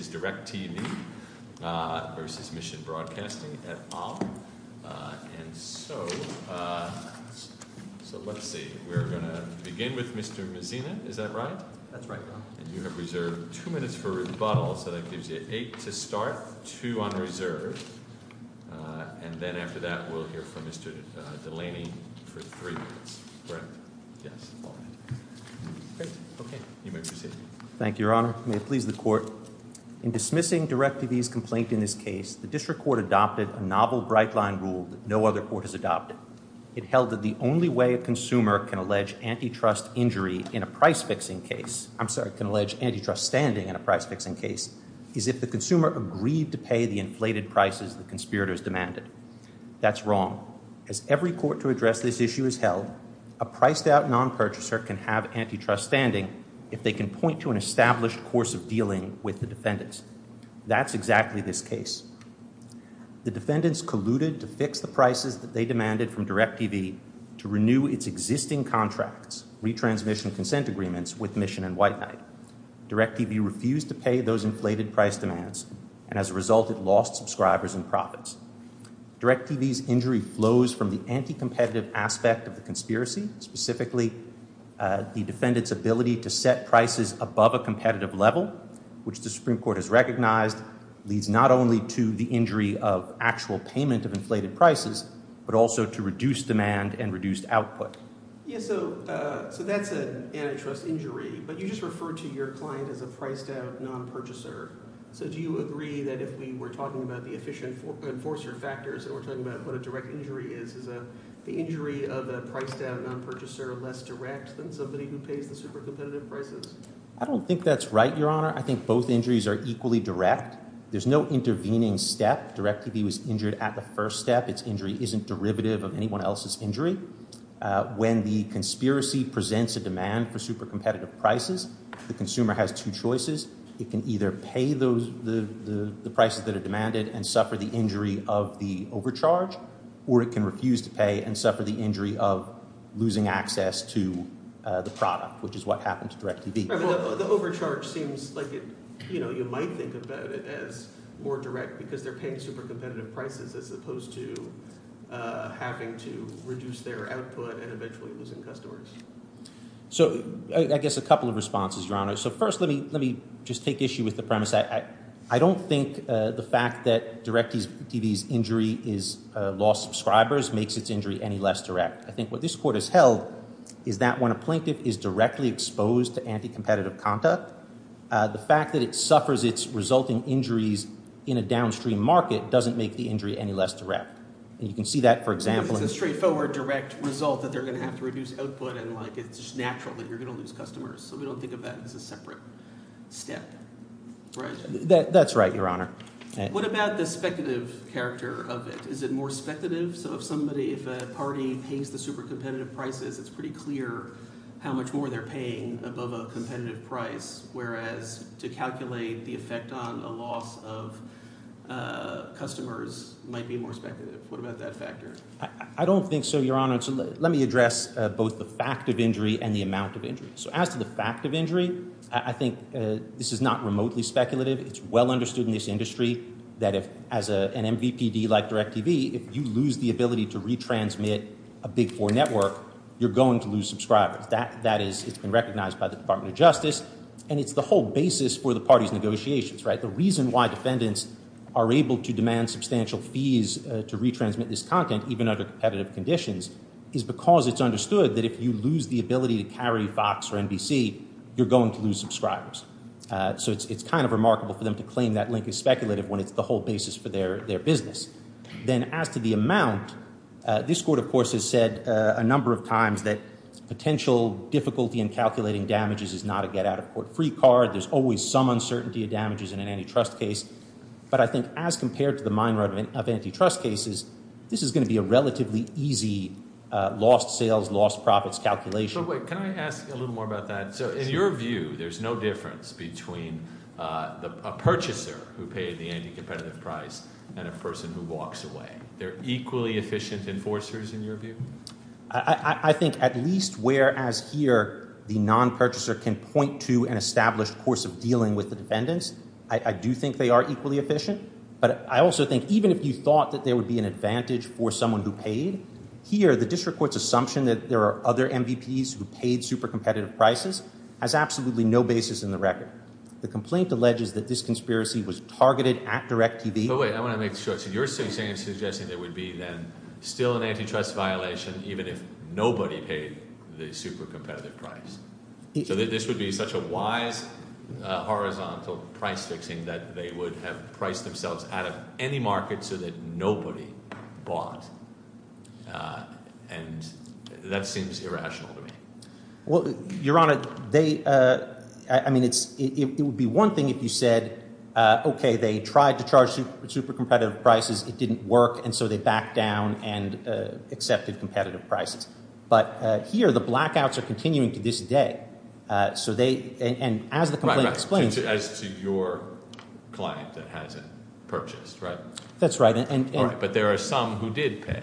This is Direct TV v. Mission Broadcasting, et al. And so, let's see, we're going to begin with Mr. Mazzini. Is that right? That's right, Your Honor. And you have reserved two minutes for rebuttal, so that gives you eight to start, two on reserve. And then after that, we'll hear from Mr. Delaney for three minutes. Correct? Yes. All right. Great. Okay. You may proceed. Thank you, Your Honor. May it please the Court. In dismissing Direct TV's complaint in this case, the District Court adopted a novel bright-line rule that no other court has adopted. It held that the only way a consumer can allege antitrust standing in a price-fixing case is if the consumer agreed to pay the inflated prices the conspirators demanded. That's wrong. As every court to address this issue has held, a priced-out non-purchaser can have antitrust standing if they can point to an established course of dealing with the defendants. That's exactly this case. The defendants colluded to fix the prices that they demanded from Direct TV to renew its existing contracts, retransmission consent agreements, with Mission and White Knight. Direct TV refused to pay those inflated price demands, and as a result, it lost subscribers and profits. Direct TV's injury flows from the anti-competitive aspect of the conspiracy, specifically the defendant's ability to set prices above a competitive level, which the Supreme Court has recognized leads not only to the injury of actual payment of inflated prices, but also to reduced demand and reduced output. So that's an antitrust injury, but you just referred to your client as a priced-out non-purchaser. So do you agree that if we were talking about the efficient enforcer factors and we're talking about what a direct injury is, is the injury of a priced-out non-purchaser less direct than somebody who pays the super-competitive prices? I don't think that's right, Your Honor. I think both injuries are equally direct. There's no intervening step. Direct TV was injured at the first step. Its injury isn't derivative of anyone else's injury. When the conspiracy presents a demand for super-competitive prices, the consumer has two choices. It can either pay the prices that are demanded and suffer the injury of the overcharge, or it can refuse to pay and suffer the injury of losing access to the product, which is what happened to direct TV. The overcharge seems like you might think about it as more direct because they're paying super-competitive prices as opposed to having to reduce their output and eventually losing customers. So I guess a couple of responses, Your Honor. So first let me just take issue with the premise. I don't think the fact that direct TV's injury is lost subscribers makes its injury any less direct. I think what this court has held is that when a plaintiff is directly exposed to anti-competitive conduct, the fact that it suffers its resulting injuries in a downstream market doesn't make the injury any less direct. And you can see that, for example— It's a straightforward direct result that they're going to have to reduce output, and it's just natural that you're going to lose customers. So we don't think of that as a separate step. That's right, Your Honor. What about the speculative character of it? Is it more speculative? So if somebody, if a party pays the super-competitive prices, it's pretty clear how much more they're paying above a competitive price, whereas to calculate the effect on a loss of customers might be more speculative. What about that factor? I don't think so, Your Honor. Let me address both the fact of injury and the amount of injury. So as to the fact of injury, I think this is not remotely speculative. It's well understood in this industry that if, as an MVPD like direct TV, if you lose the ability to retransmit a Big Four network, you're going to lose subscribers. That is, it's been recognized by the Department of Justice, and it's the whole basis for the party's negotiations, right? The reason why defendants are able to demand substantial fees to retransmit this content, even under competitive conditions, is because it's understood that if you lose the ability to carry Fox or NBC, you're going to lose subscribers. So it's kind of remarkable for them to claim that link is speculative when it's the whole basis for their business. Then as to the amount, this Court, of course, has said a number of times that potential difficulty in calculating damages is not a get-out-of-court-free card. There's always some uncertainty of damages in an antitrust case. But I think as compared to the mine run of antitrust cases, this is going to be a relatively easy lost sales, lost profits calculation. But wait, can I ask a little more about that? So in your view, there's no difference between a purchaser who paid the anti-competitive price and a person who walks away. They're equally efficient enforcers in your view? I think at least whereas here the non-purchaser can point to an established course of dealing with the defendants, I do think they are equally efficient. But I also think even if you thought that there would be an advantage for someone who paid, here the district court's assumption that there are other MVPs who paid super-competitive prices has absolutely no basis in the record. The complaint alleges that this conspiracy was targeted at DirecTV. But wait, I want to make sure. So you're suggesting there would be then still an antitrust violation even if nobody paid the super-competitive price. So this would be such a wise horizontal price fixing that they would have priced themselves out of any market so that nobody bought. And that seems irrational to me. Your Honor, it would be one thing if you said, okay, they tried to charge super-competitive prices, it didn't work, and so they backed down and accepted competitive prices. But here the blackouts are continuing to this day. So they, and as the complaint explains. As to your client that hasn't purchased, right? That's right. But there are some who did pay,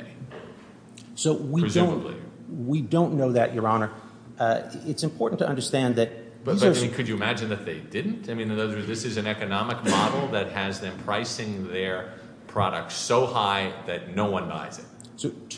presumably. We don't know that, Your Honor. It's important to understand that. But could you imagine that they didn't? I mean, this is an economic model that has them pricing their products so high that no one buys it.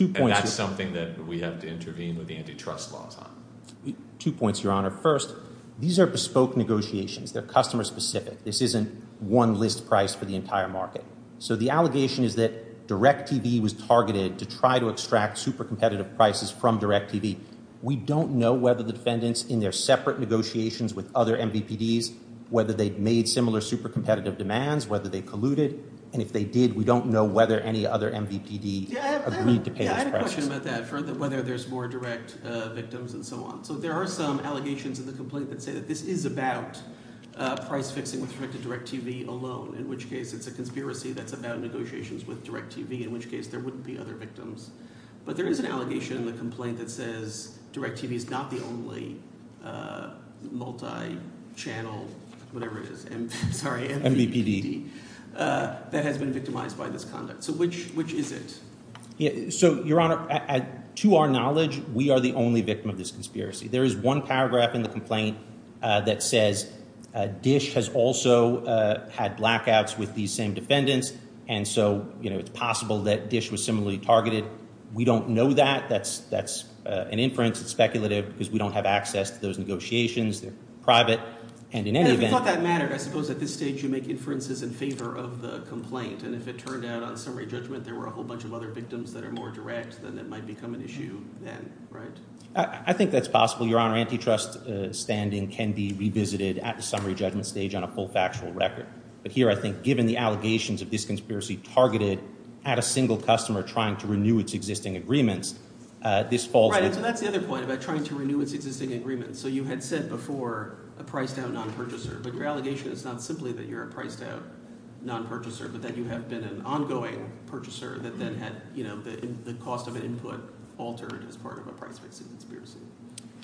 And that's something that we have to intervene with the antitrust laws on. Two points, Your Honor. First, these are bespoke negotiations. They're customer-specific. This isn't one list price for the entire market. So the allegation is that DirecTV was targeted to try to extract super-competitive prices from DirecTV. We don't know whether the defendants in their separate negotiations with other MVPDs, whether they made similar super-competitive demands, whether they colluded. And if they did, we don't know whether any other MVPD agreed to pay those prices. I have a question about that, whether there's more direct victims and so on. So there are some allegations in the complaint that say that this is about price-fixing with respect to DirecTV alone, in which case it's a conspiracy that's about negotiations with DirecTV, in which case there wouldn't be other victims. But there is an allegation in the complaint that says DirecTV is not the only multi-channel, whatever it is, MVPD. That has been victimized by this conduct. So which is it? So, Your Honor, to our knowledge, we are the only victim of this conspiracy. There is one paragraph in the complaint that says Dish has also had blackouts with these same defendants, and so it's possible that Dish was similarly targeted. We don't know that. That's an inference. It's speculative because we don't have access to those negotiations. They're private. And in any event— And if it turned out on summary judgment there were a whole bunch of other victims that are more direct, then that might become an issue then, right? I think that's possible, Your Honor. Antitrust standing can be revisited at the summary judgment stage on a full factual record. But here I think given the allegations of this conspiracy targeted at a single customer trying to renew its existing agreements, this falls— Right, and that's the other point about trying to renew its existing agreements. So you had said before a priced-out non-purchaser, but your allegation is not simply that you're a priced-out non-purchaser but that you have been an ongoing purchaser that then had the cost of an input altered as part of a price-fixing conspiracy.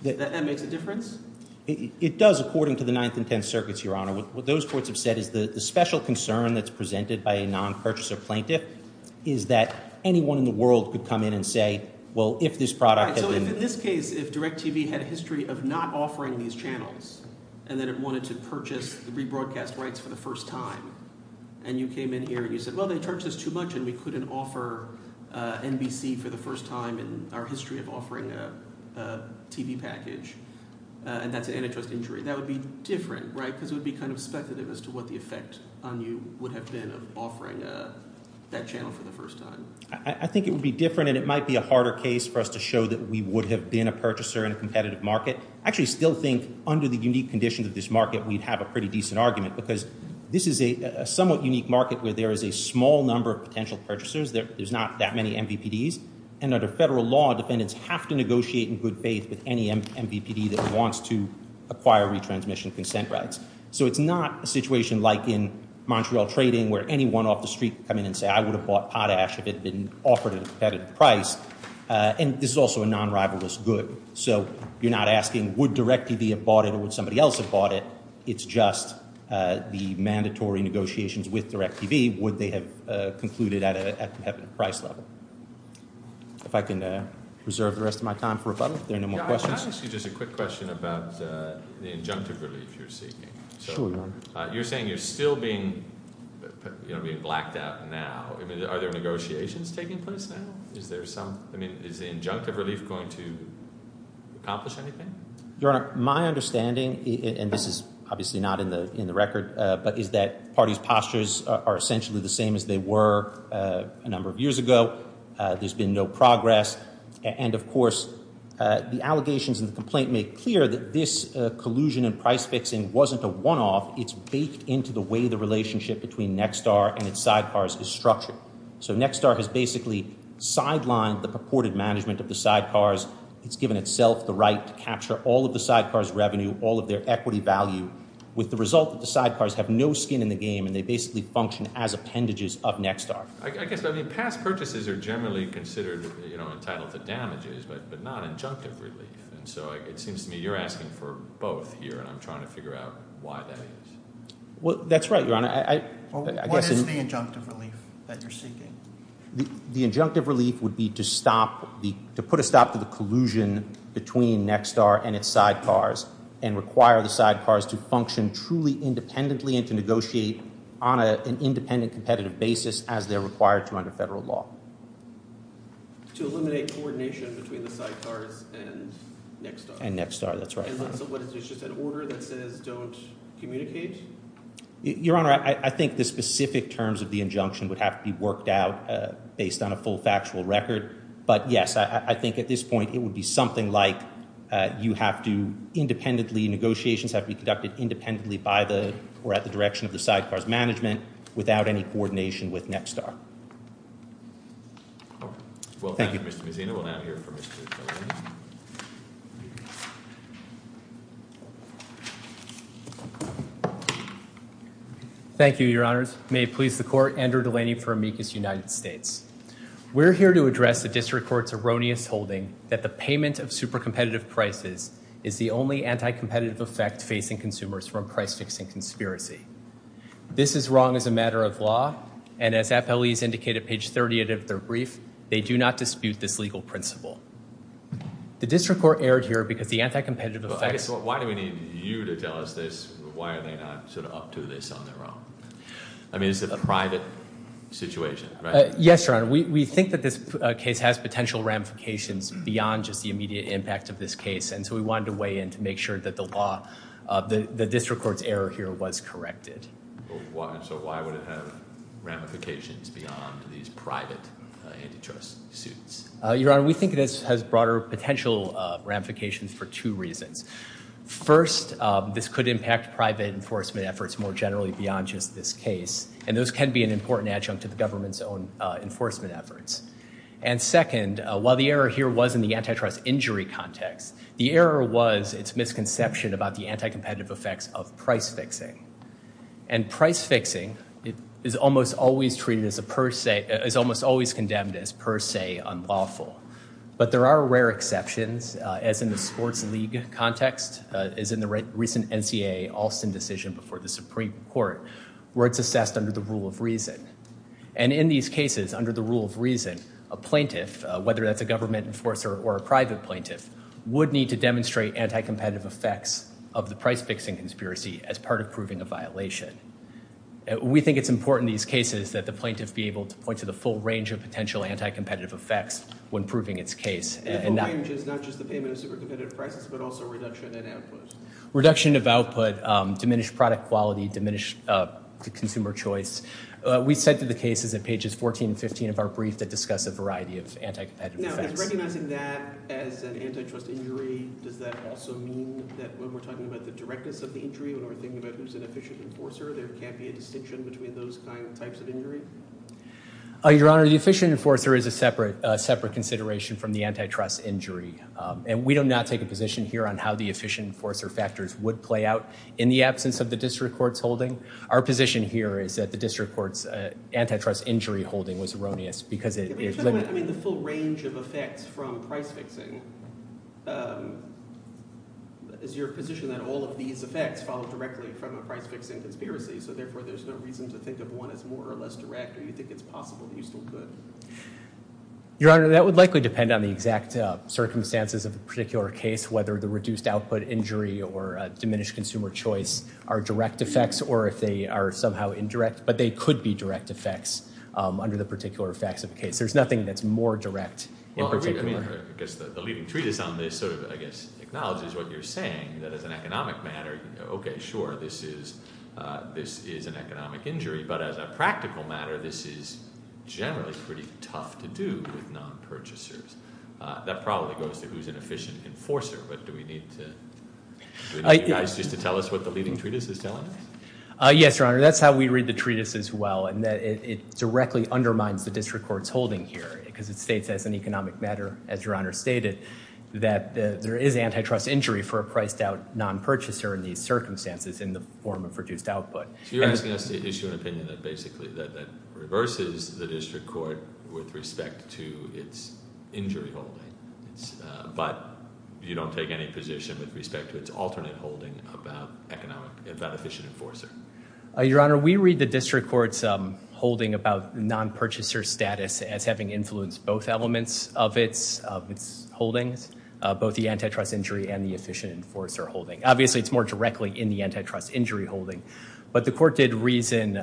That makes a difference? It does according to the Ninth and Tenth Circuits, Your Honor. What those courts have said is the special concern that's presented by a non-purchaser plaintiff is that anyone in the world could come in and say, well, if this product— So in this case, if DirecTV had a history of not offering these channels and that it wanted to purchase the rebroadcast rights for the first time, and you came in here and you said, well, they charge us too much and we couldn't offer NBC for the first time in our history of offering a TV package, and that's an antitrust injury, that would be different, right? Because it would be kind of speculative as to what the effect on you would have been of offering that channel for the first time. I think it would be different and it might be a harder case for us to show that we would have been a purchaser in a competitive market. I actually still think under the unique conditions of this market, we'd have a pretty decent argument because this is a somewhat unique market where there is a small number of potential purchasers. There's not that many MVPDs. And under federal law, defendants have to negotiate in good faith with any MVPD that wants to acquire retransmission consent rights. So it's not a situation like in Montreal trading where anyone off the street would come in and say, I would have bought Potash if it had been offered at a competitive price. And this is also a non-rivalrous good. So you're not asking would DirecTV have bought it or would somebody else have bought it. It's just the mandatory negotiations with DirecTV, would they have concluded at a competitive price level. If I can reserve the rest of my time for rebuttal if there are no more questions. Can I ask you just a quick question about the injunctive relief you're seeking? Sure, Your Honor. You're saying you're still being blacked out now. Are there negotiations taking place now? I mean, is the injunctive relief going to accomplish anything? Your Honor, my understanding, and this is obviously not in the record, but is that parties' postures are essentially the same as they were a number of years ago. There's been no progress. And, of course, the allegations in the complaint make clear that this collusion in price fixing wasn't a one-off. It's baked into the way the relationship between Nexstar and its sidecars is structured. So Nexstar has basically sidelined the purported management of the sidecars. It's given itself the right to capture all of the sidecars' revenue, all of their equity value, with the result that the sidecars have no skin in the game and they basically function as appendages of Nexstar. I guess, I mean, past purchases are generally considered entitled to damages, but not injunctive relief. And so it seems to me you're asking for both here, and I'm trying to figure out why that is. Well, that's right, Your Honor. What is the injunctive relief that you're seeking? The injunctive relief would be to put a stop to the collusion between Nexstar and its sidecars and require the sidecars to function truly independently and to negotiate on an independent, competitive basis as they're required to under federal law. To eliminate coordination between the sidecars and Nexstar? And Nexstar, that's right. So it's just an order that says don't communicate? Your Honor, I think the specific terms of the injunction would have to be worked out based on a full factual record. But, yes, I think at this point it would be something like you have to independently, negotiations have to be conducted independently by the or at the direction of the sidecars management without any coordination with Nexstar. Well, thank you, Mr. Mazzino. We'll now hear from Mr. Delaney. Thank you, Your Honors. May it please the Court, Andrew Delaney for Amicus United States. We're here to address the district court's erroneous holding that the payment of super competitive prices is the only anti-competitive effect facing consumers from price fixing conspiracy. This is wrong as a matter of law, and as FLEs indicate at page 30 of their brief, they do not dispute this legal principle. The district court erred here because the anti-competitive effects Well, I guess why do we need you to tell us this? Why are they not sort of up to this on their own? I mean, is it a private situation? Yes, Your Honor. We think that this case has potential ramifications beyond just the immediate impact of this case, and so we wanted to weigh in to make sure that the district court's error here was corrected. So why would it have ramifications beyond these private antitrust suits? Your Honor, we think it has broader potential ramifications for two reasons. First, this could impact private enforcement efforts more generally beyond just this case, and those can be an important adjunct to the government's own enforcement efforts. And second, while the error here was in the antitrust injury context, the error was its misconception about the anti-competitive effects of price fixing, and price fixing is almost always treated as a per se, is almost always condemned as per se unlawful. But there are rare exceptions, as in the sports league context, as in the recent NCAA Alston decision before the Supreme Court, where it's assessed under the rule of reason. And in these cases, under the rule of reason, a plaintiff, whether that's a government enforcer or a private plaintiff, would need to demonstrate anti-competitive effects of the price fixing conspiracy as part of proving a violation. We think it's important in these cases that the plaintiff be able to point to the full range of potential anti-competitive effects when proving its case. The full range is not just the payment of super competitive prices, but also reduction in output. Reduction of output, diminished product quality, diminished consumer choice. We said to the cases at pages 14 and 15 of our brief that discuss a variety of anti-competitive effects. Now, in recognizing that as an antitrust injury, does that also mean that when we're talking about the directness of the injury, when we're thinking about who's an efficient enforcer, there can't be a distinction between those kind of types of injury? Your Honor, the efficient enforcer is a separate consideration from the antitrust injury. And we do not take a position here on how the efficient enforcer factors would play out in the absence of the district court's holding. Our position here is that the district court's antitrust injury holding was erroneous because it is limited. I mean, the full range of effects from price fixing, is your position that all of these effects follow directly from a price fixing conspiracy? So, therefore, there's no reason to think of one as more or less direct, or you think it's possible that you still could? Your Honor, that would likely depend on the exact circumstances of the particular case, whether the reduced output injury or diminished consumer choice are direct effects, or if they are somehow indirect. But they could be direct effects under the particular effects of the case. There's nothing that's more direct in particular. Well, I mean, I guess the leading treatise on this sort of, I guess, acknowledges what you're saying. That as an economic matter, okay, sure, this is an economic injury. But as a practical matter, this is generally pretty tough to do with non-purchasers. That probably goes to who's an efficient enforcer. But do we need you guys just to tell us what the leading treatise is telling us? Yes, Your Honor. That's how we read the treatise as well, in that it directly undermines the district court's holding here. Because it states as an economic matter, as Your Honor stated, that there is antitrust injury for a priced-out non-purchaser in these circumstances in the form of reduced output. So you're asking us to issue an opinion that basically reverses the district court with respect to its injury holding. But you don't take any position with respect to its alternate holding about efficient enforcer. Your Honor, we read the district court's holding about non-purchaser status as having influenced both elements of its holdings, both the antitrust injury and the efficient enforcer holding. Obviously, it's more directly in the antitrust injury holding. But the court did reason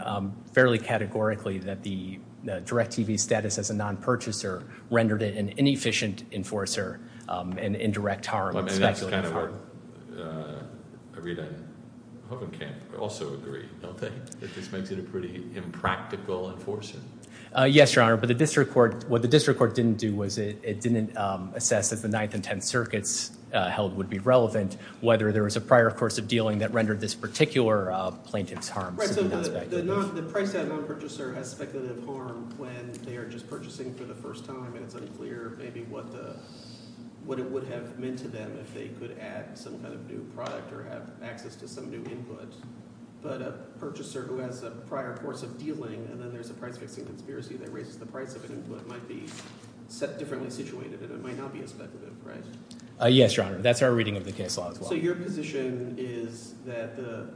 fairly categorically that the direct TV status as a non-purchaser rendered it an inefficient enforcer and indirect harm. And that's kind of what I read on Hogan Camp also agree, don't they? That this makes it a pretty impractical enforcer. Yes, Your Honor. But what the district court didn't do was it didn't assess if the Ninth and Tenth Circuits held would be relevant, whether there was a prior course of dealing that rendered this particular plaintiff's harm significant. Right, so the priced-out non-purchaser has speculative harm when they are just purchasing for the first time, and it's unclear maybe what it would have meant to them if they could add some kind of new product or have access to some new input. But a purchaser who has a prior course of dealing and then there's a price-fixing conspiracy that raises the price of an input might be differently situated, and it might not be as speculative, right? Yes, Your Honor. That's our reading of the case law as well. Also, your position is that the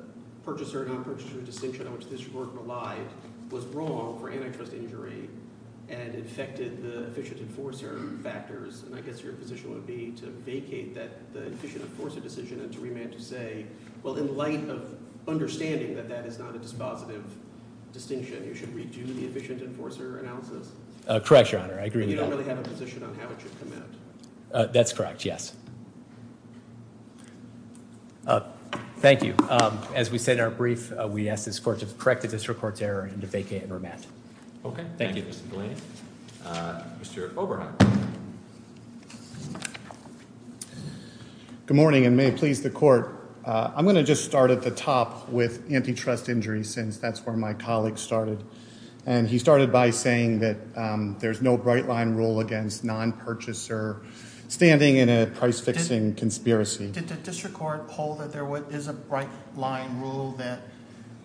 purchaser-non-purchaser distinction on which this court relied was wrong for antitrust injury and it affected the efficient enforcer factors, and I guess your position would be to vacate that efficient enforcer decision and to remand to say, well, in light of understanding that that is not a dispositive distinction, you should redo the efficient enforcer analysis. Correct, Your Honor. I agree with that. And you don't really have a position on how it should come out. That's correct, yes. Thank you. As we said in our brief, we ask this court to correct the district court's error and to vacate and remand. Okay. Thank you, Mr. Galanis. Mr. Oberheim. Good morning, and may it please the court. I'm going to just start at the top with antitrust injury since that's where my colleague started, and he started by saying that there's no bright-line rule against non-purchaser standing in a price-fixing conspiracy. Did the district court hold that there is a bright-line rule that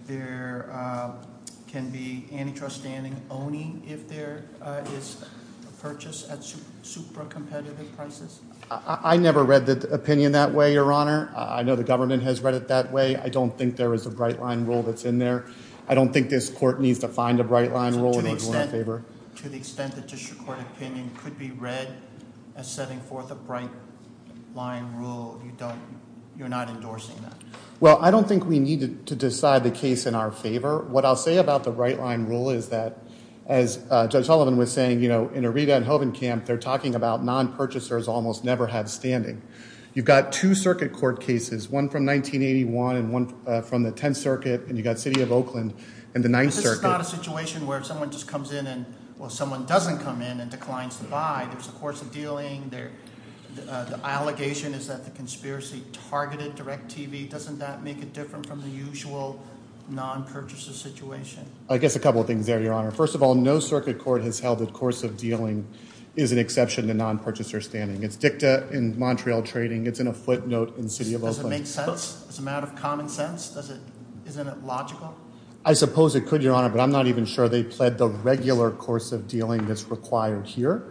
there can be antitrust standing only if there is a purchase at super competitive prices? I never read the opinion that way, Your Honor. I know the government has read it that way. I don't think there is a bright-line rule that's in there. I don't think this court needs to find a bright-line rule. To the extent the district court opinion could be read as setting forth a bright-line rule, you're not endorsing that? Well, I don't think we need to decide the case in our favor. What I'll say about the bright-line rule is that, as Judge Hullivan was saying, you know, in Irita and Hovenkamp, they're talking about non-purchasers almost never have standing. You've got two circuit court cases, one from 1981 and one from the 10th Circuit, and you've got City of Oakland and the 9th Circuit. But this is not a situation where someone just comes in and – well, someone doesn't come in and declines to buy. There's a course of dealing. The allegation is that the conspiracy targeted DirecTV. Doesn't that make it different from the usual non-purchaser situation? I guess a couple of things there, Your Honor. First of all, no circuit court has held that course of dealing is an exception to non-purchaser standing. It's dicta in Montreal trading. It's in a footnote in City of Oakland. Does it make sense? Is it a matter of common sense? Isn't it logical? I suppose it could, Your Honor, but I'm not even sure they pled the regular course of dealing that's required here.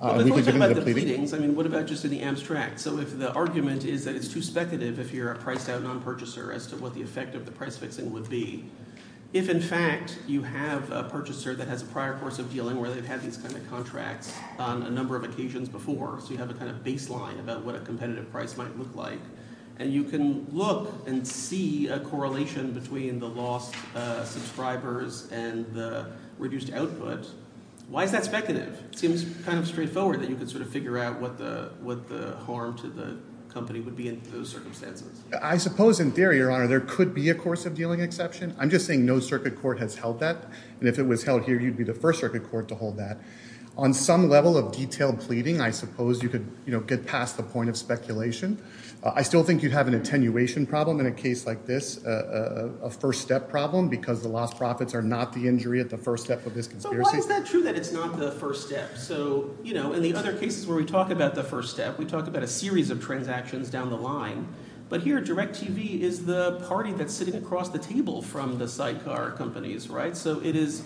Well, the question about the pleadings, I mean what about just in the abstract? So if the argument is that it's too speculative if you're a priced-out non-purchaser as to what the effect of the price-fixing would be, if, in fact, you have a purchaser that has a prior course of dealing where they've had these kind of contracts on a number of occasions before, so you have a kind of baseline about what a competitive price might look like, and you can look and see a correlation between the lost subscribers and the reduced output, why is that speculative? It seems kind of straightforward that you can sort of figure out what the harm to the company would be in those circumstances. I suppose in theory, Your Honor, there could be a course of dealing exception. I'm just saying no circuit court has held that, and if it was held here, you'd be the first circuit court to hold that. On some level of detailed pleading, I suppose you could get past the point of speculation. I still think you'd have an attenuation problem in a case like this, a first-step problem because the lost profits are not the injury at the first step of this conspiracy. So why is that true that it's not the first step? So in the other cases where we talk about the first step, we talk about a series of transactions down the line, but here DirecTV is the party that's sitting across the table from the sidecar companies, right? So it is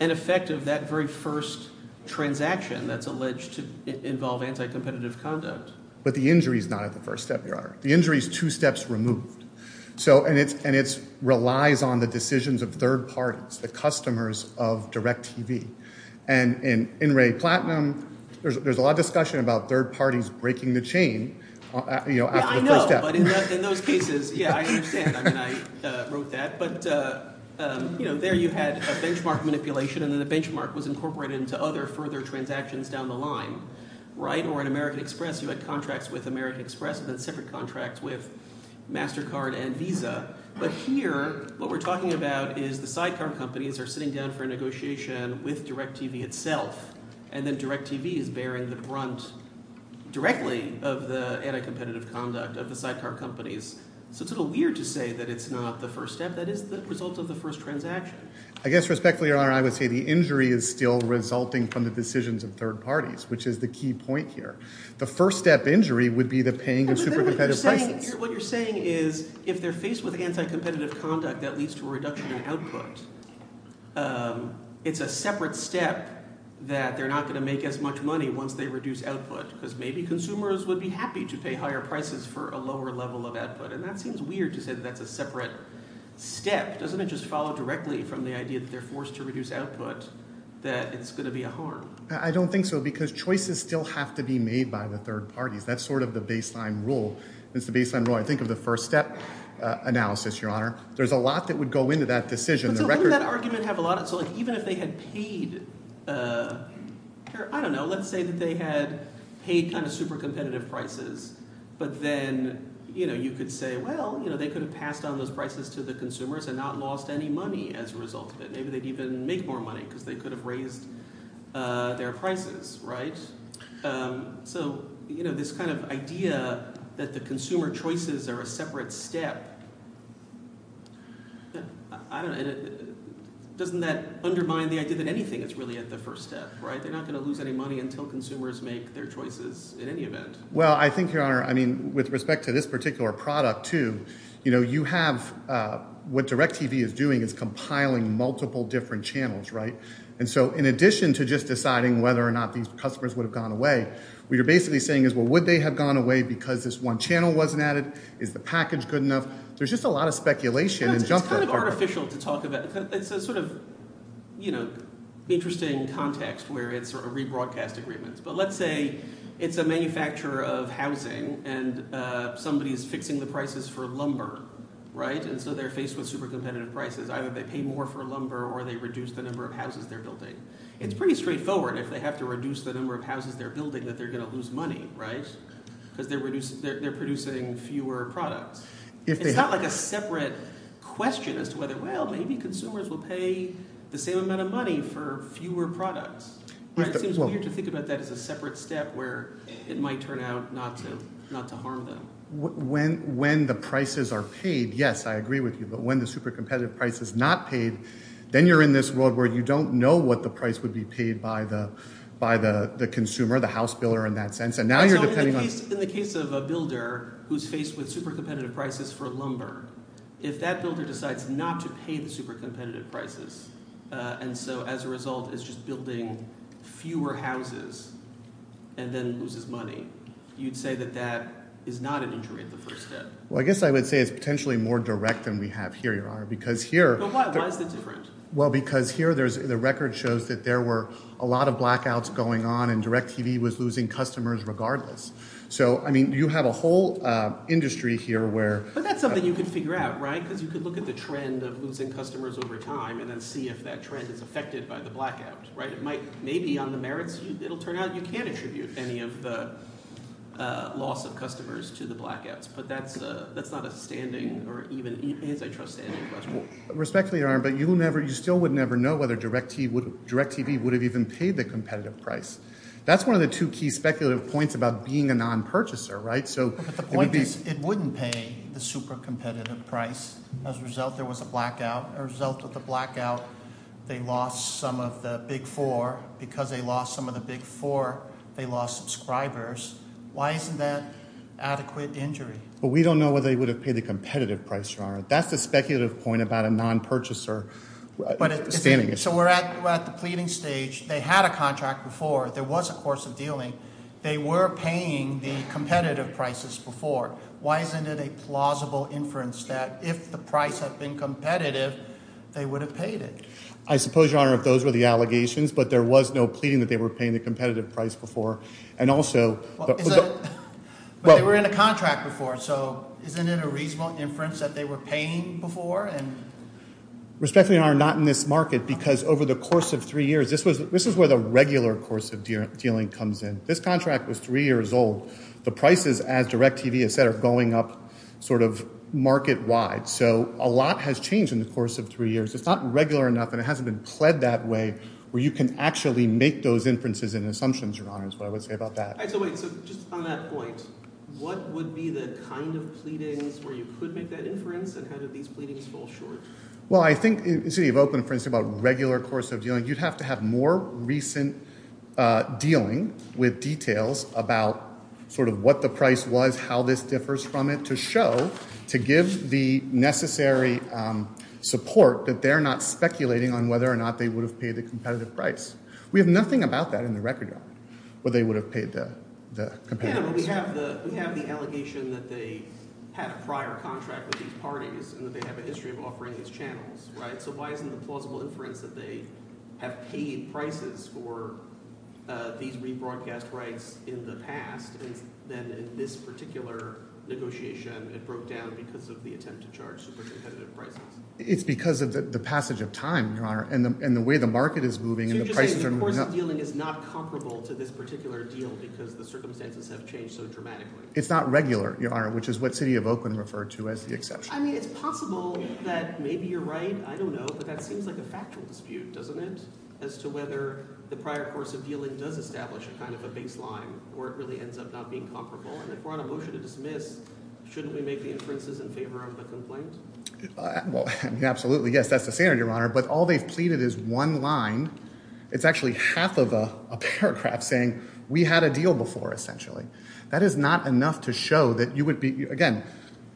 an effect of that very first transaction that's alleged to involve anti-competitive conduct. But the injury is not at the first step, Your Honor. The injury is two steps removed, and it relies on the decisions of third parties, the customers of DirecTV. And in Ray Platinum, there's a lot of discussion about third parties breaking the chain after the first step. But in those cases, yeah, I understand. I mean I wrote that. But there you had a benchmark manipulation, and then the benchmark was incorporated into other further transactions down the line, right? Or in American Express, you had contracts with American Express and then separate contracts with MasterCard and Visa. But here what we're talking about is the sidecar companies are sitting down for a negotiation with DirecTV itself, and then DirecTV is bearing the brunt directly of the anti-competitive conduct of the sidecar companies. So it's a little weird to say that it's not the first step. That is the result of the first transaction. I guess respectfully, Your Honor, I would say the injury is still resulting from the decisions of third parties, which is the key point here. The first step injury would be the paying of super competitive prices. What you're saying is if they're faced with anti-competitive conduct that leads to a reduction in output, it's a separate step that they're not going to make as much money once they reduce output because maybe consumers would be happy to pay higher prices for a lower level of output. And that seems weird to say that that's a separate step. Doesn't it just follow directly from the idea that they're forced to reduce output that it's going to be a harm? I don't think so because choices still have to be made by the third parties. That's sort of the baseline rule. It's the baseline rule, I think, of the first step analysis, Your Honor. There's a lot that would go into that decision. So wouldn't that argument have a lot – so even if they had paid – I don't know. Let's say that they had paid kind of super competitive prices, but then you could say, well, they could have passed on those prices to the consumers and not lost any money as a result of it. Maybe they'd even make more money because they could have raised their prices. So this kind of idea that the consumer choices are a separate step, I don't – doesn't that undermine the idea that anything is really at the first step? They're not going to lose any money until consumers make their choices in any event. Well, I think, Your Honor, I mean with respect to this particular product too, you have – what DirecTV is doing is compiling multiple different channels. And so in addition to just deciding whether or not these customers would have gone away, what you're basically saying is, well, would they have gone away because this one channel wasn't added? Is the package good enough? There's just a lot of speculation. It's kind of artificial to talk about. It's a sort of interesting context where it's sort of rebroadcast agreements. But let's say it's a manufacturer of housing and somebody is fixing the prices for lumber, and so they're faced with super competitive prices. Either they pay more for lumber or they reduce the number of houses they're building. It's pretty straightforward if they have to reduce the number of houses they're building that they're going to lose money because they're producing fewer products. It's not like a separate question as to whether, well, maybe consumers will pay the same amount of money for fewer products. It seems weird to think about that as a separate step where it might turn out not to harm them. When the prices are paid, yes, I agree with you. But when the super competitive price is not paid, then you're in this world where you don't know what the price would be paid by the consumer, the house builder in that sense. And now you're depending on – In the case of a builder who's faced with super competitive prices for lumber, if that builder decides not to pay the super competitive prices and so as a result is just building fewer houses and then loses money, you'd say that that is not an injury at the first step. Well, I guess I would say it's potentially more direct than we have here, Your Honor, because here – But why is it different? Well, because here there's – the record shows that there were a lot of blackouts going on and DirecTV was losing customers regardless. So, I mean you have a whole industry here where – But that's something you can figure out because you can look at the trend of losing customers over time and then see if that trend is affected by the blackout. Maybe on the merits it will turn out you can't attribute any of the loss of customers to the blackouts, but that's not a standing or even antitrust standing question. Respectfully, Your Honor, but you still would never know whether DirecTV would have even paid the competitive price. That's one of the two key speculative points about being a non-purchaser, right? But the point is it wouldn't pay the super competitive price. As a result, there was a blackout. As a result of the blackout, they lost some of the big four. Because they lost some of the big four, they lost subscribers. Why isn't that adequate injury? But we don't know whether they would have paid the competitive price, Your Honor. That's the speculative point about a non-purchaser standing issue. So we're at the pleading stage. They had a contract before. There was a course of dealing. They were paying the competitive prices before. Why isn't it a plausible inference that if the price had been competitive, they would have paid it? I suppose, Your Honor, if those were the allegations, but there was no pleading that they were paying the competitive price before. And also – But they were in a contract before. So isn't it a reasonable inference that they were paying before? Respectfully, Your Honor, not in this market because over the course of three years, this is where the regular course of dealing comes in. This contract was three years old. The prices, as DIRECTV has said, are going up sort of market-wide. So a lot has changed in the course of three years. It's not regular enough, and it hasn't been pled that way where you can actually make those inferences and assumptions, Your Honor, is what I would say about that. So wait. So just on that point, what would be the kind of pleadings where you could make that inference, and how do these pleadings fall short? Well, I think in the city of Oakland, for instance, about regular course of dealing, you'd have to have more recent dealing with details about sort of what the price was, how this differs from it to show – to give the necessary support that they're not speculating on whether or not they would have paid the competitive price. We have nothing about that in the record, Your Honor, where they would have paid the competitive price. Yeah, but we have the allegation that they had a prior contract with these parties and that they have a history of offering these channels. So why isn't the plausible inference that they have paid prices for these rebroadcast rights in the past? And then in this particular negotiation, it broke down because of the attempt to charge supercompetitive prices. It's because of the passage of time, Your Honor, and the way the market is moving. So you're just saying the course of dealing is not comparable to this particular deal because the circumstances have changed so dramatically? It's not regular, Your Honor, which is what city of Oakland referred to as the exception. I mean, it's possible that maybe you're right. I don't know. But that seems like a factual dispute, doesn't it, as to whether the prior course of dealing does establish a kind of a baseline where it really ends up not being comparable? And if we're on a motion to dismiss, shouldn't we make the inferences in favor of the complaint? Well, absolutely. Yes, that's the standard, Your Honor. But all they've pleaded is one line. It's actually half of a paragraph saying we had a deal before, essentially. That is not enough to show that you would be again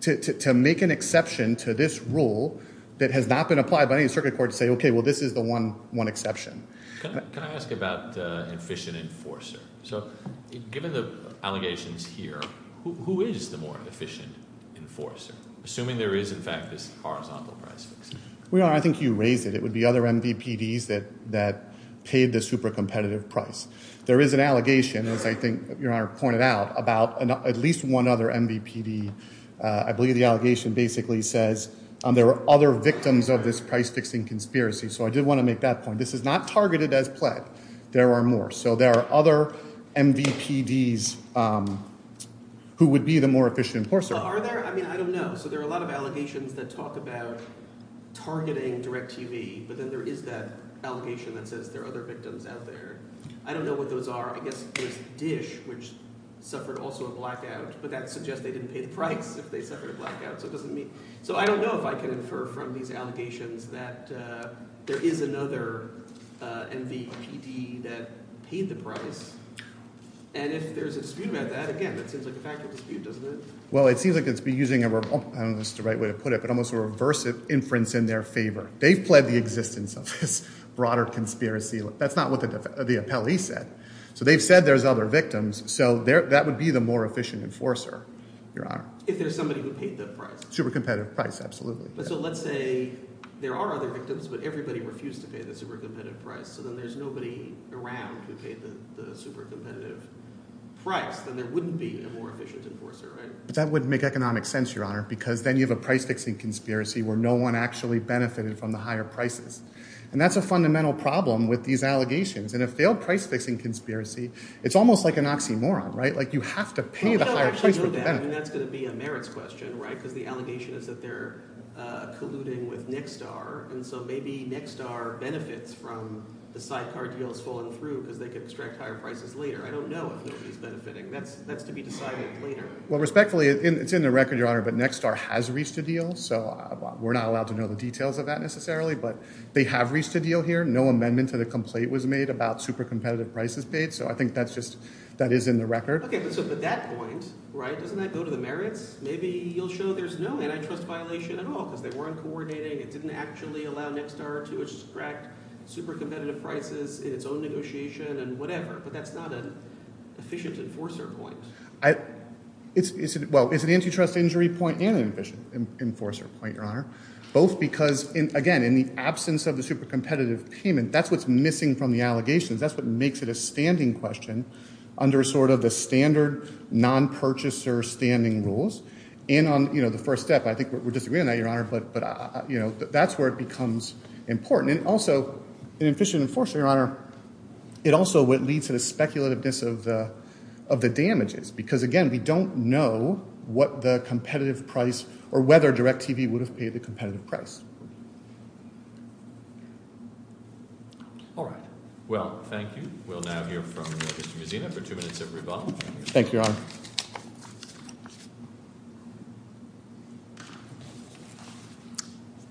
to make an exception to this rule that has not been applied by any circuit court to say, OK, well, this is the one exception. Can I ask about an efficient enforcer? So given the allegations here, who is the more efficient enforcer, assuming there is, in fact, this horizontal price fix? Your Honor, I think you raised it. It would be other MVPDs that paid the super competitive price. There is an allegation, as I think Your Honor pointed out, about at least one other MVPD. I believe the allegation basically says there are other victims of this price fixing conspiracy. So I did want to make that point. This is not targeted as pled. There are more. So there are other MVPDs who would be the more efficient enforcer. Are there? I mean I don't know. So there are a lot of allegations that talk about targeting DirecTV. But then there is that allegation that says there are other victims out there. I don't know what those are. I guess there's DISH, which suffered also a blackout, but that suggests they didn't pay the price if they suffered a blackout. So it doesn't mean – so I don't know if I can infer from these allegations that there is another MVPD that paid the price. And if there's a dispute about that, again, that seems like a factual dispute, doesn't it? Well, it seems like it's using a – I don't know if this is the right way to put it, but almost a reverse inference in their favor. They've pled the existence of this broader conspiracy. That's not what the appellee said. So they've said there's other victims, so that would be the more efficient enforcer, Your Honor. If there's somebody who paid the price. Super competitive price, absolutely. So let's say there are other victims, but everybody refused to pay the super competitive price. So then there's nobody around who paid the super competitive price. Then there wouldn't be a more efficient enforcer, right? That wouldn't make economic sense, Your Honor, because then you have a price-fixing conspiracy where no one actually benefited from the higher prices. And that's a fundamental problem with these allegations. And a failed price-fixing conspiracy, it's almost like an oxymoron. You have to pay the higher price for the benefit. I mean that's going to be a merits question because the allegation is that they're colluding with Nextar. And so maybe Nextar benefits from the sidecar deals falling through because they can extract higher prices later. I don't know if nobody is benefiting. That's to be decided later. Well, respectfully, it's in the record, Your Honor, but Nextar has reached a deal. So we're not allowed to know the details of that necessarily, but they have reached a deal here. No amendment to the complaint was made about super competitive prices paid. So I think that's just – that is in the record. Okay, but so at that point, doesn't that go to the merits? Maybe you'll show there's no antitrust violation at all because they weren't coordinating. It didn't actually allow Nextar to extract super competitive prices in its own negotiation and whatever, but that's not an efficient enforcer point. Well, it's an antitrust injury point and an efficient enforcer point, Your Honor, both because, again, in the absence of the super competitive payment. That's what's missing from the allegations. That's what makes it a standing question under sort of the standard non-purchaser standing rules. And on the first step, I think we're disagreeing on that, Your Honor, but that's where it becomes important. And also an efficient enforcer, Your Honor, it also leads to the speculativeness of the damages because, again, we don't know what the competitive price or whether DirecTV would have paid the competitive price. All right. Well, thank you. We'll now hear from Justice Mazzino for two minutes of rebuttal. Thank you, Your Honor.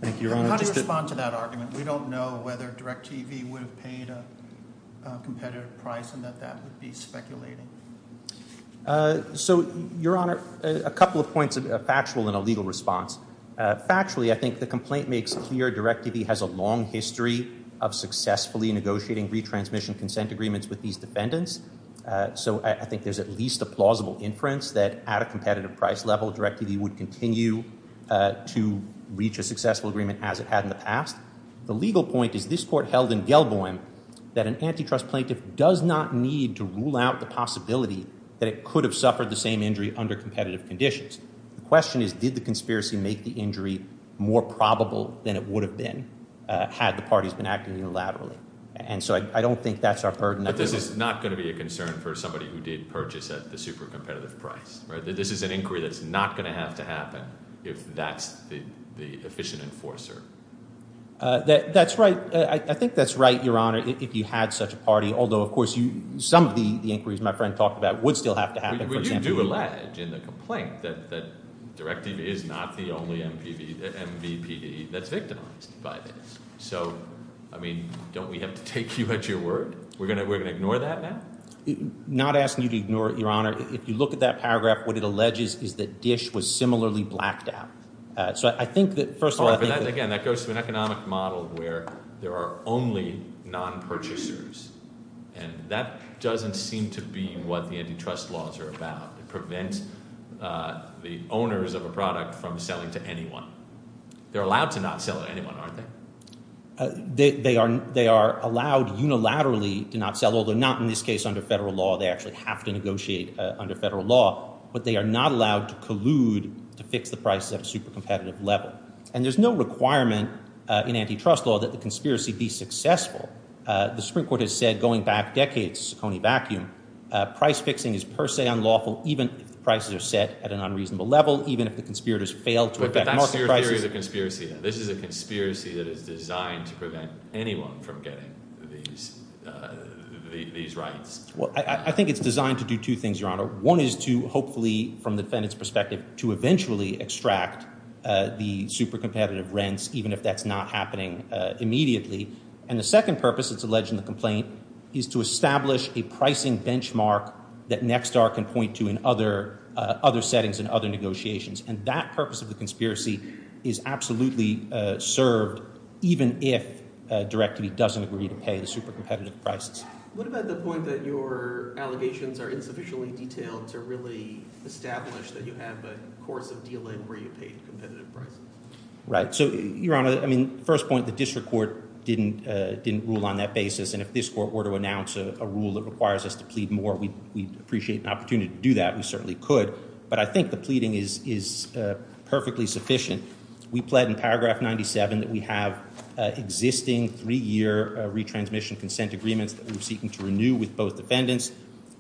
Thank you, Your Honor. How do you respond to that argument? We don't know whether DirecTV would have paid a competitive price and that that would be speculating. So, Your Honor, a couple of points, a factual and a legal response. Factually, I think the complaint makes clear DirecTV has a long history of successfully negotiating retransmission consent agreements with these defendants. So I think there's at least a plausible inference that at a competitive price level, DirecTV would continue to reach a successful agreement as it had in the past. The legal point is this court held in Gelboim that an antitrust plaintiff does not need to rule out the possibility that it could have suffered the same injury under competitive conditions. The question is, did the conspiracy make the injury more probable than it would have been had the parties been acting unilaterally? And so I don't think that's our burden. But this is not going to be a concern for somebody who did purchase at the super competitive price, right? This is an inquiry that's not going to have to happen if that's the efficient enforcer. That's right. I think that's right, Your Honor, if you had such a party. Although, of course, some of the inquiries my friend talked about would still have to happen. You do allege in the complaint that DirecTV is not the only MVPD that's victimized by this. So, I mean, don't we have to take you at your word? We're going to ignore that now? Not asking you to ignore it, Your Honor. If you look at that paragraph, what it alleges is that Dish was similarly blacked out. So I think that first of all I think that- Again, that goes to an economic model where there are only non-purchasers. And that doesn't seem to be what the antitrust laws are about. It prevents the owners of a product from selling to anyone. They're allowed to not sell to anyone, aren't they? They are allowed unilaterally to not sell, although not in this case under federal law. They actually have to negotiate under federal law. But they are not allowed to collude to fix the prices at a super competitive level. And there's no requirement in antitrust law that the conspiracy be successful. The Supreme Court has said going back decades, Coney Vacuum, price fixing is per se unlawful even if the prices are set at an unreasonable level, even if the conspirators fail to- But that's your theory of the conspiracy. This is a conspiracy that is designed to prevent anyone from getting these rights. Well, I think it's designed to do two things, Your Honor. One is to hopefully, from the defendant's perspective, to eventually extract the super competitive rents even if that's not happening immediately. And the second purpose, it's alleged in the complaint, is to establish a pricing benchmark that Nexstar can point to in other settings and other negotiations. And that purpose of the conspiracy is absolutely served even if Direct-to-Be doesn't agree to pay the super competitive prices. What about the point that your allegations are insufficiently detailed to really establish that you have a course of dealing where you pay competitive prices? Right. So, Your Honor, I mean, first point, the district court didn't rule on that basis. And if this court were to announce a rule that requires us to plead more, we'd appreciate an opportunity to do that. We certainly could. But I think the pleading is perfectly sufficient. We pled in paragraph 97 that we have existing three-year retransmission consent agreements that we're seeking to renew with both defendants.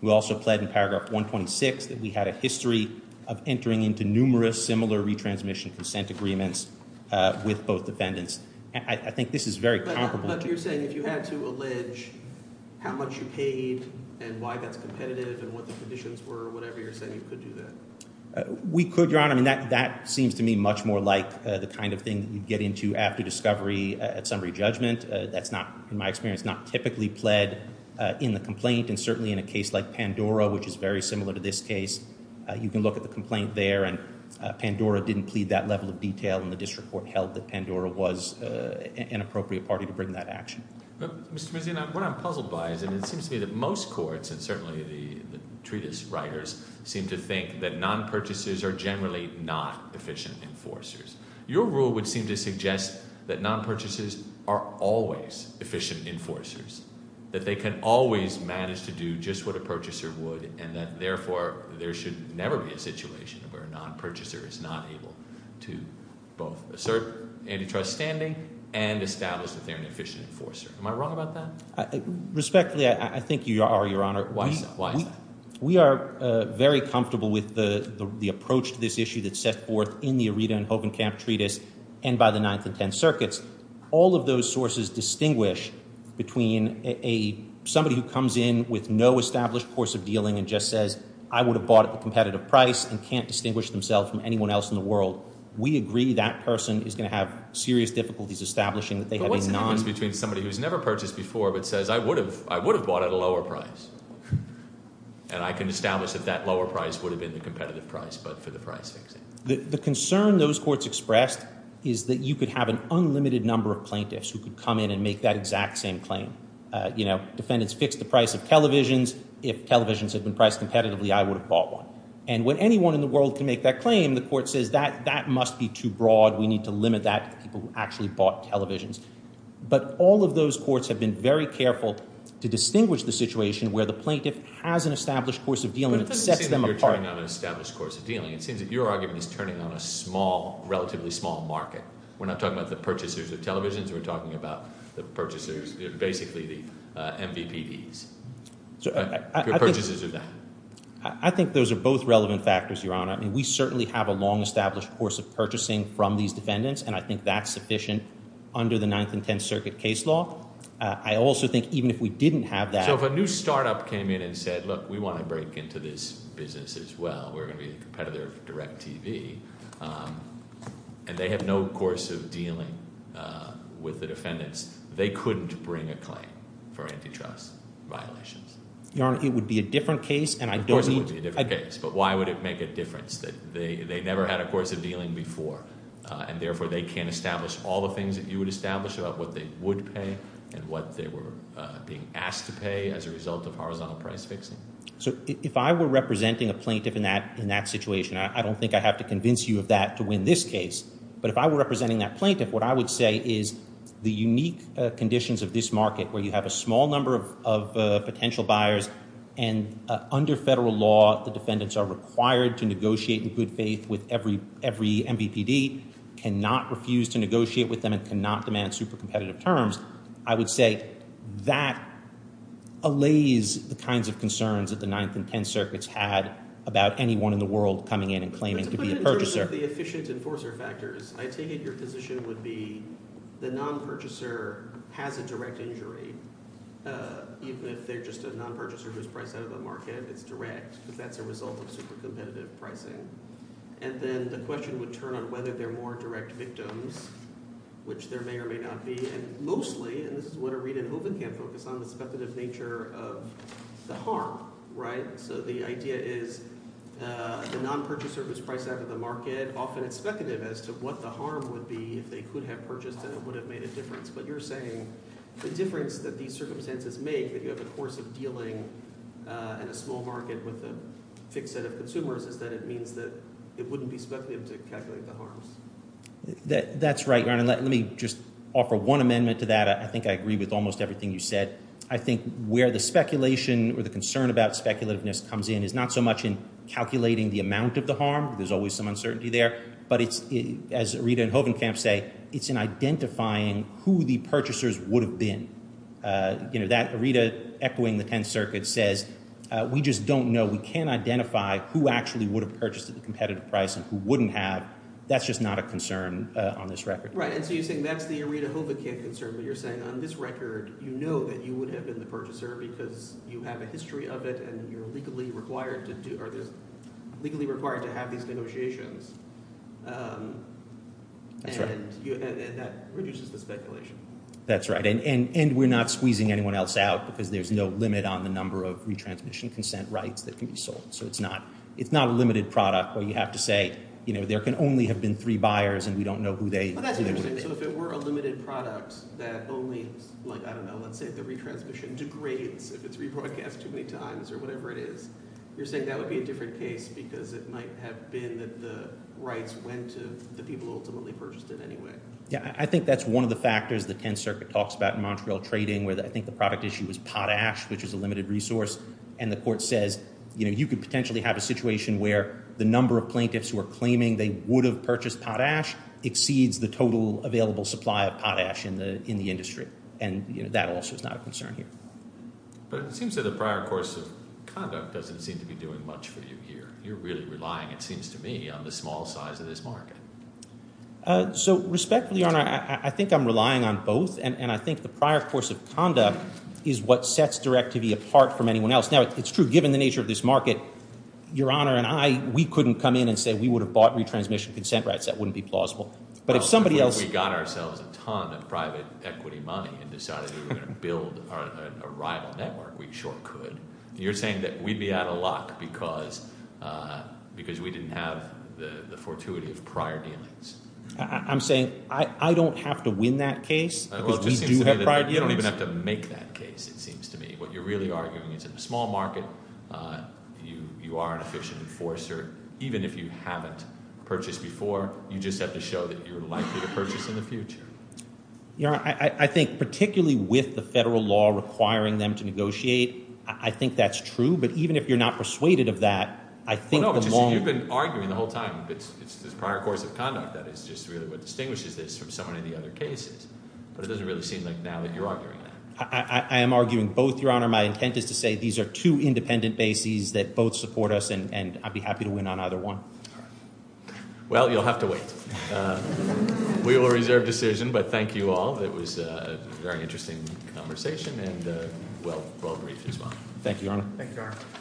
We also pled in paragraph 126 that we had a history of entering into numerous similar three-year retransmission consent agreements with both defendants. I think this is very comparable. But you're saying if you had to allege how much you paid and why that's competitive and what the conditions were or whatever, you're saying you could do that? We could, Your Honor. I mean, that seems to me much more like the kind of thing that you'd get into after discovery at summary judgment. That's not, in my experience, not typically pled in the complaint. And certainly in a case like Pandora, which is very similar to this case, you can look at the complaint there and Pandora didn't plead that level of detail and the district court held that Pandora was an appropriate party to bring that action. Mr. Mazin, what I'm puzzled by is it seems to me that most courts and certainly the treatise writers seem to think that non-purchasers are generally not efficient enforcers. Your rule would seem to suggest that non-purchasers are always efficient enforcers, that they can always manage to do just what a purchaser would and that therefore there should never be a situation where a non-purchaser is not able to both assert antitrust standing and establish that they're an efficient enforcer. Am I wrong about that? Respectfully, I think you are, Your Honor. Why is that? We are very comfortable with the approach to this issue that's set forth in the Aretha and Hogan Camp Treatise and by the Ninth and Tenth Circuits. All of those sources distinguish between somebody who comes in with no established course of dealing and just says, I would have bought it at a competitive price and can't distinguish themselves from anyone else in the world. We agree that person is going to have serious difficulties establishing that they have a non- But what's the difference between somebody who's never purchased before but says, I would have bought it at a lower price and I can establish that that lower price would have been the competitive price but for the price fixing? The concern those courts expressed is that you could have an unlimited number of plaintiffs who could come in and make that exact same claim. You know, defendants fix the price of televisions. If televisions had been priced competitively, I would have bought one. And when anyone in the world can make that claim, the court says that that must be too broad. We need to limit that to people who actually bought televisions. But all of those courts have been very careful to distinguish the situation where the plaintiff has an established course of dealing that sets them apart. It seems that your argument is turning on a small, relatively small market. We're not talking about the purchasers of televisions. We're talking about the purchasers, basically the MVPDs. Your purchases are that. I think those are both relevant factors, Your Honor. I mean, we certainly have a long established course of purchasing from these defendants, and I think that's sufficient under the Ninth and Tenth Circuit case law. I also think even if we didn't have that- If a new startup came in and said, look, we want to break into this business as well. We're going to be a competitor of DirecTV, and they have no course of dealing with the defendants, they couldn't bring a claim for antitrust violations. Your Honor, it would be a different case, and I don't need- Of course it would be a different case. But why would it make a difference that they never had a course of dealing before, and therefore they can't establish all the things that you would establish about what they would pay and what they were being asked to pay as a result of horizontal price fixing? So if I were representing a plaintiff in that situation, I don't think I have to convince you of that to win this case. But if I were representing that plaintiff, what I would say is the unique conditions of this market where you have a small number of potential buyers, and under federal law, the defendants are required to negotiate in good faith with every MVPD, cannot refuse to negotiate with them, and cannot demand super-competitive terms, I would say that allays the kinds of concerns that the Ninth and Tenth Circuits had about anyone in the world coming in and claiming to be a purchaser. But to put it in terms of the efficient enforcer factors, I take it your position would be the non-purchaser has a direct injury, even if they're just a non-purchaser who's priced out of the market, it's direct, because that's a result of super-competitive pricing. And then the question would turn on whether they're more direct victims, which there may or may not be. And mostly, and this is what a read in Hoeven can focus on, the speculative nature of the harm, right? So the idea is the non-purchaser who's priced out of the market, often it's speculative as to what the harm would be if they could have purchased and it would have made a difference. But you're saying the difference that these circumstances make that you have a course of dealing in a small market with a fixed set of consumers is that it means that it wouldn't be speculative to calculate the harms. That's right. Let me just offer one amendment to that. I think I agree with almost everything you said. I think where the speculation or the concern about speculativeness comes in is not so much in calculating the amount of the harm. There's always some uncertainty there. But it's, as Rita and Hoeven can say, it's in identifying who the purchasers would have been. Rita, echoing the Tenth Circuit, says we just don't know. We can't identify who actually would have purchased at the competitive price and who wouldn't have. That's just not a concern on this record. Right, and so you're saying that's the Rita Hoeven can't concern. But you're saying on this record, you know that you would have been the purchaser because you have a history of it and you're legally required to have these negotiations. That's right. And that reduces the speculation. That's right. And we're not squeezing anyone else out because there's no limit on the number of retransmission consent rights that can be sold. So it's not a limited product where you have to say, you know, there can only have been three buyers and we don't know who they would have been. So if it were a limited product that only, like, I don't know, let's say the retransmission degrades if it's rebroadcast too many times or whatever it is, you're saying that would be a different case because it might have been that the rights went to the people who ultimately purchased it anyway. Yeah, I think that's one of the factors the Tenth Circuit talks about in Montreal trading where I think the product issue is potash, which is a limited resource, and the court says, you know, you could potentially have a situation where the number of plaintiffs who are claiming they would have purchased potash exceeds the total available supply of potash in the industry. And that also is not a concern here. But it seems that the prior course of conduct doesn't seem to be doing much for you here. You're really relying, it seems to me, on the small size of this market. So, respectfully, Your Honor, I think I'm relying on both. And I think the prior course of conduct is what sets Directivi apart from anyone else. Now, it's true, given the nature of this market, Your Honor and I, we couldn't come in and say we would have bought retransmission consent rights. That wouldn't be plausible. But if somebody else- Well, if we got ourselves a ton of private equity money and decided we were going to build a rival network, we sure could. You're saying that we'd be out of luck because we didn't have the fortuity of prior dealings. I'm saying I don't have to win that case because we do have prior dealings. You don't even have to make that case, it seems to me. What you're really arguing is in a small market, you are an efficient enforcer. Even if you haven't purchased before, you just have to show that you're likely to purchase in the future. Your Honor, I think particularly with the federal law requiring them to negotiate, I think that's true. But even if you're not persuaded of that, I think the moment- Well, no, but you've been arguing the whole time. It's this prior course of conduct that is just really what distinguishes this from so many of the other cases. But it doesn't really seem like now that you're arguing that. I am arguing both, Your Honor. My intent is to say these are two independent bases that both support us, and I'd be happy to win on either one. All right. Well, you'll have to wait. We will reserve decision, but thank you all. It was a very interesting conversation and well-briefed as well. Thank you, Your Honor. Thank you, Your Honor.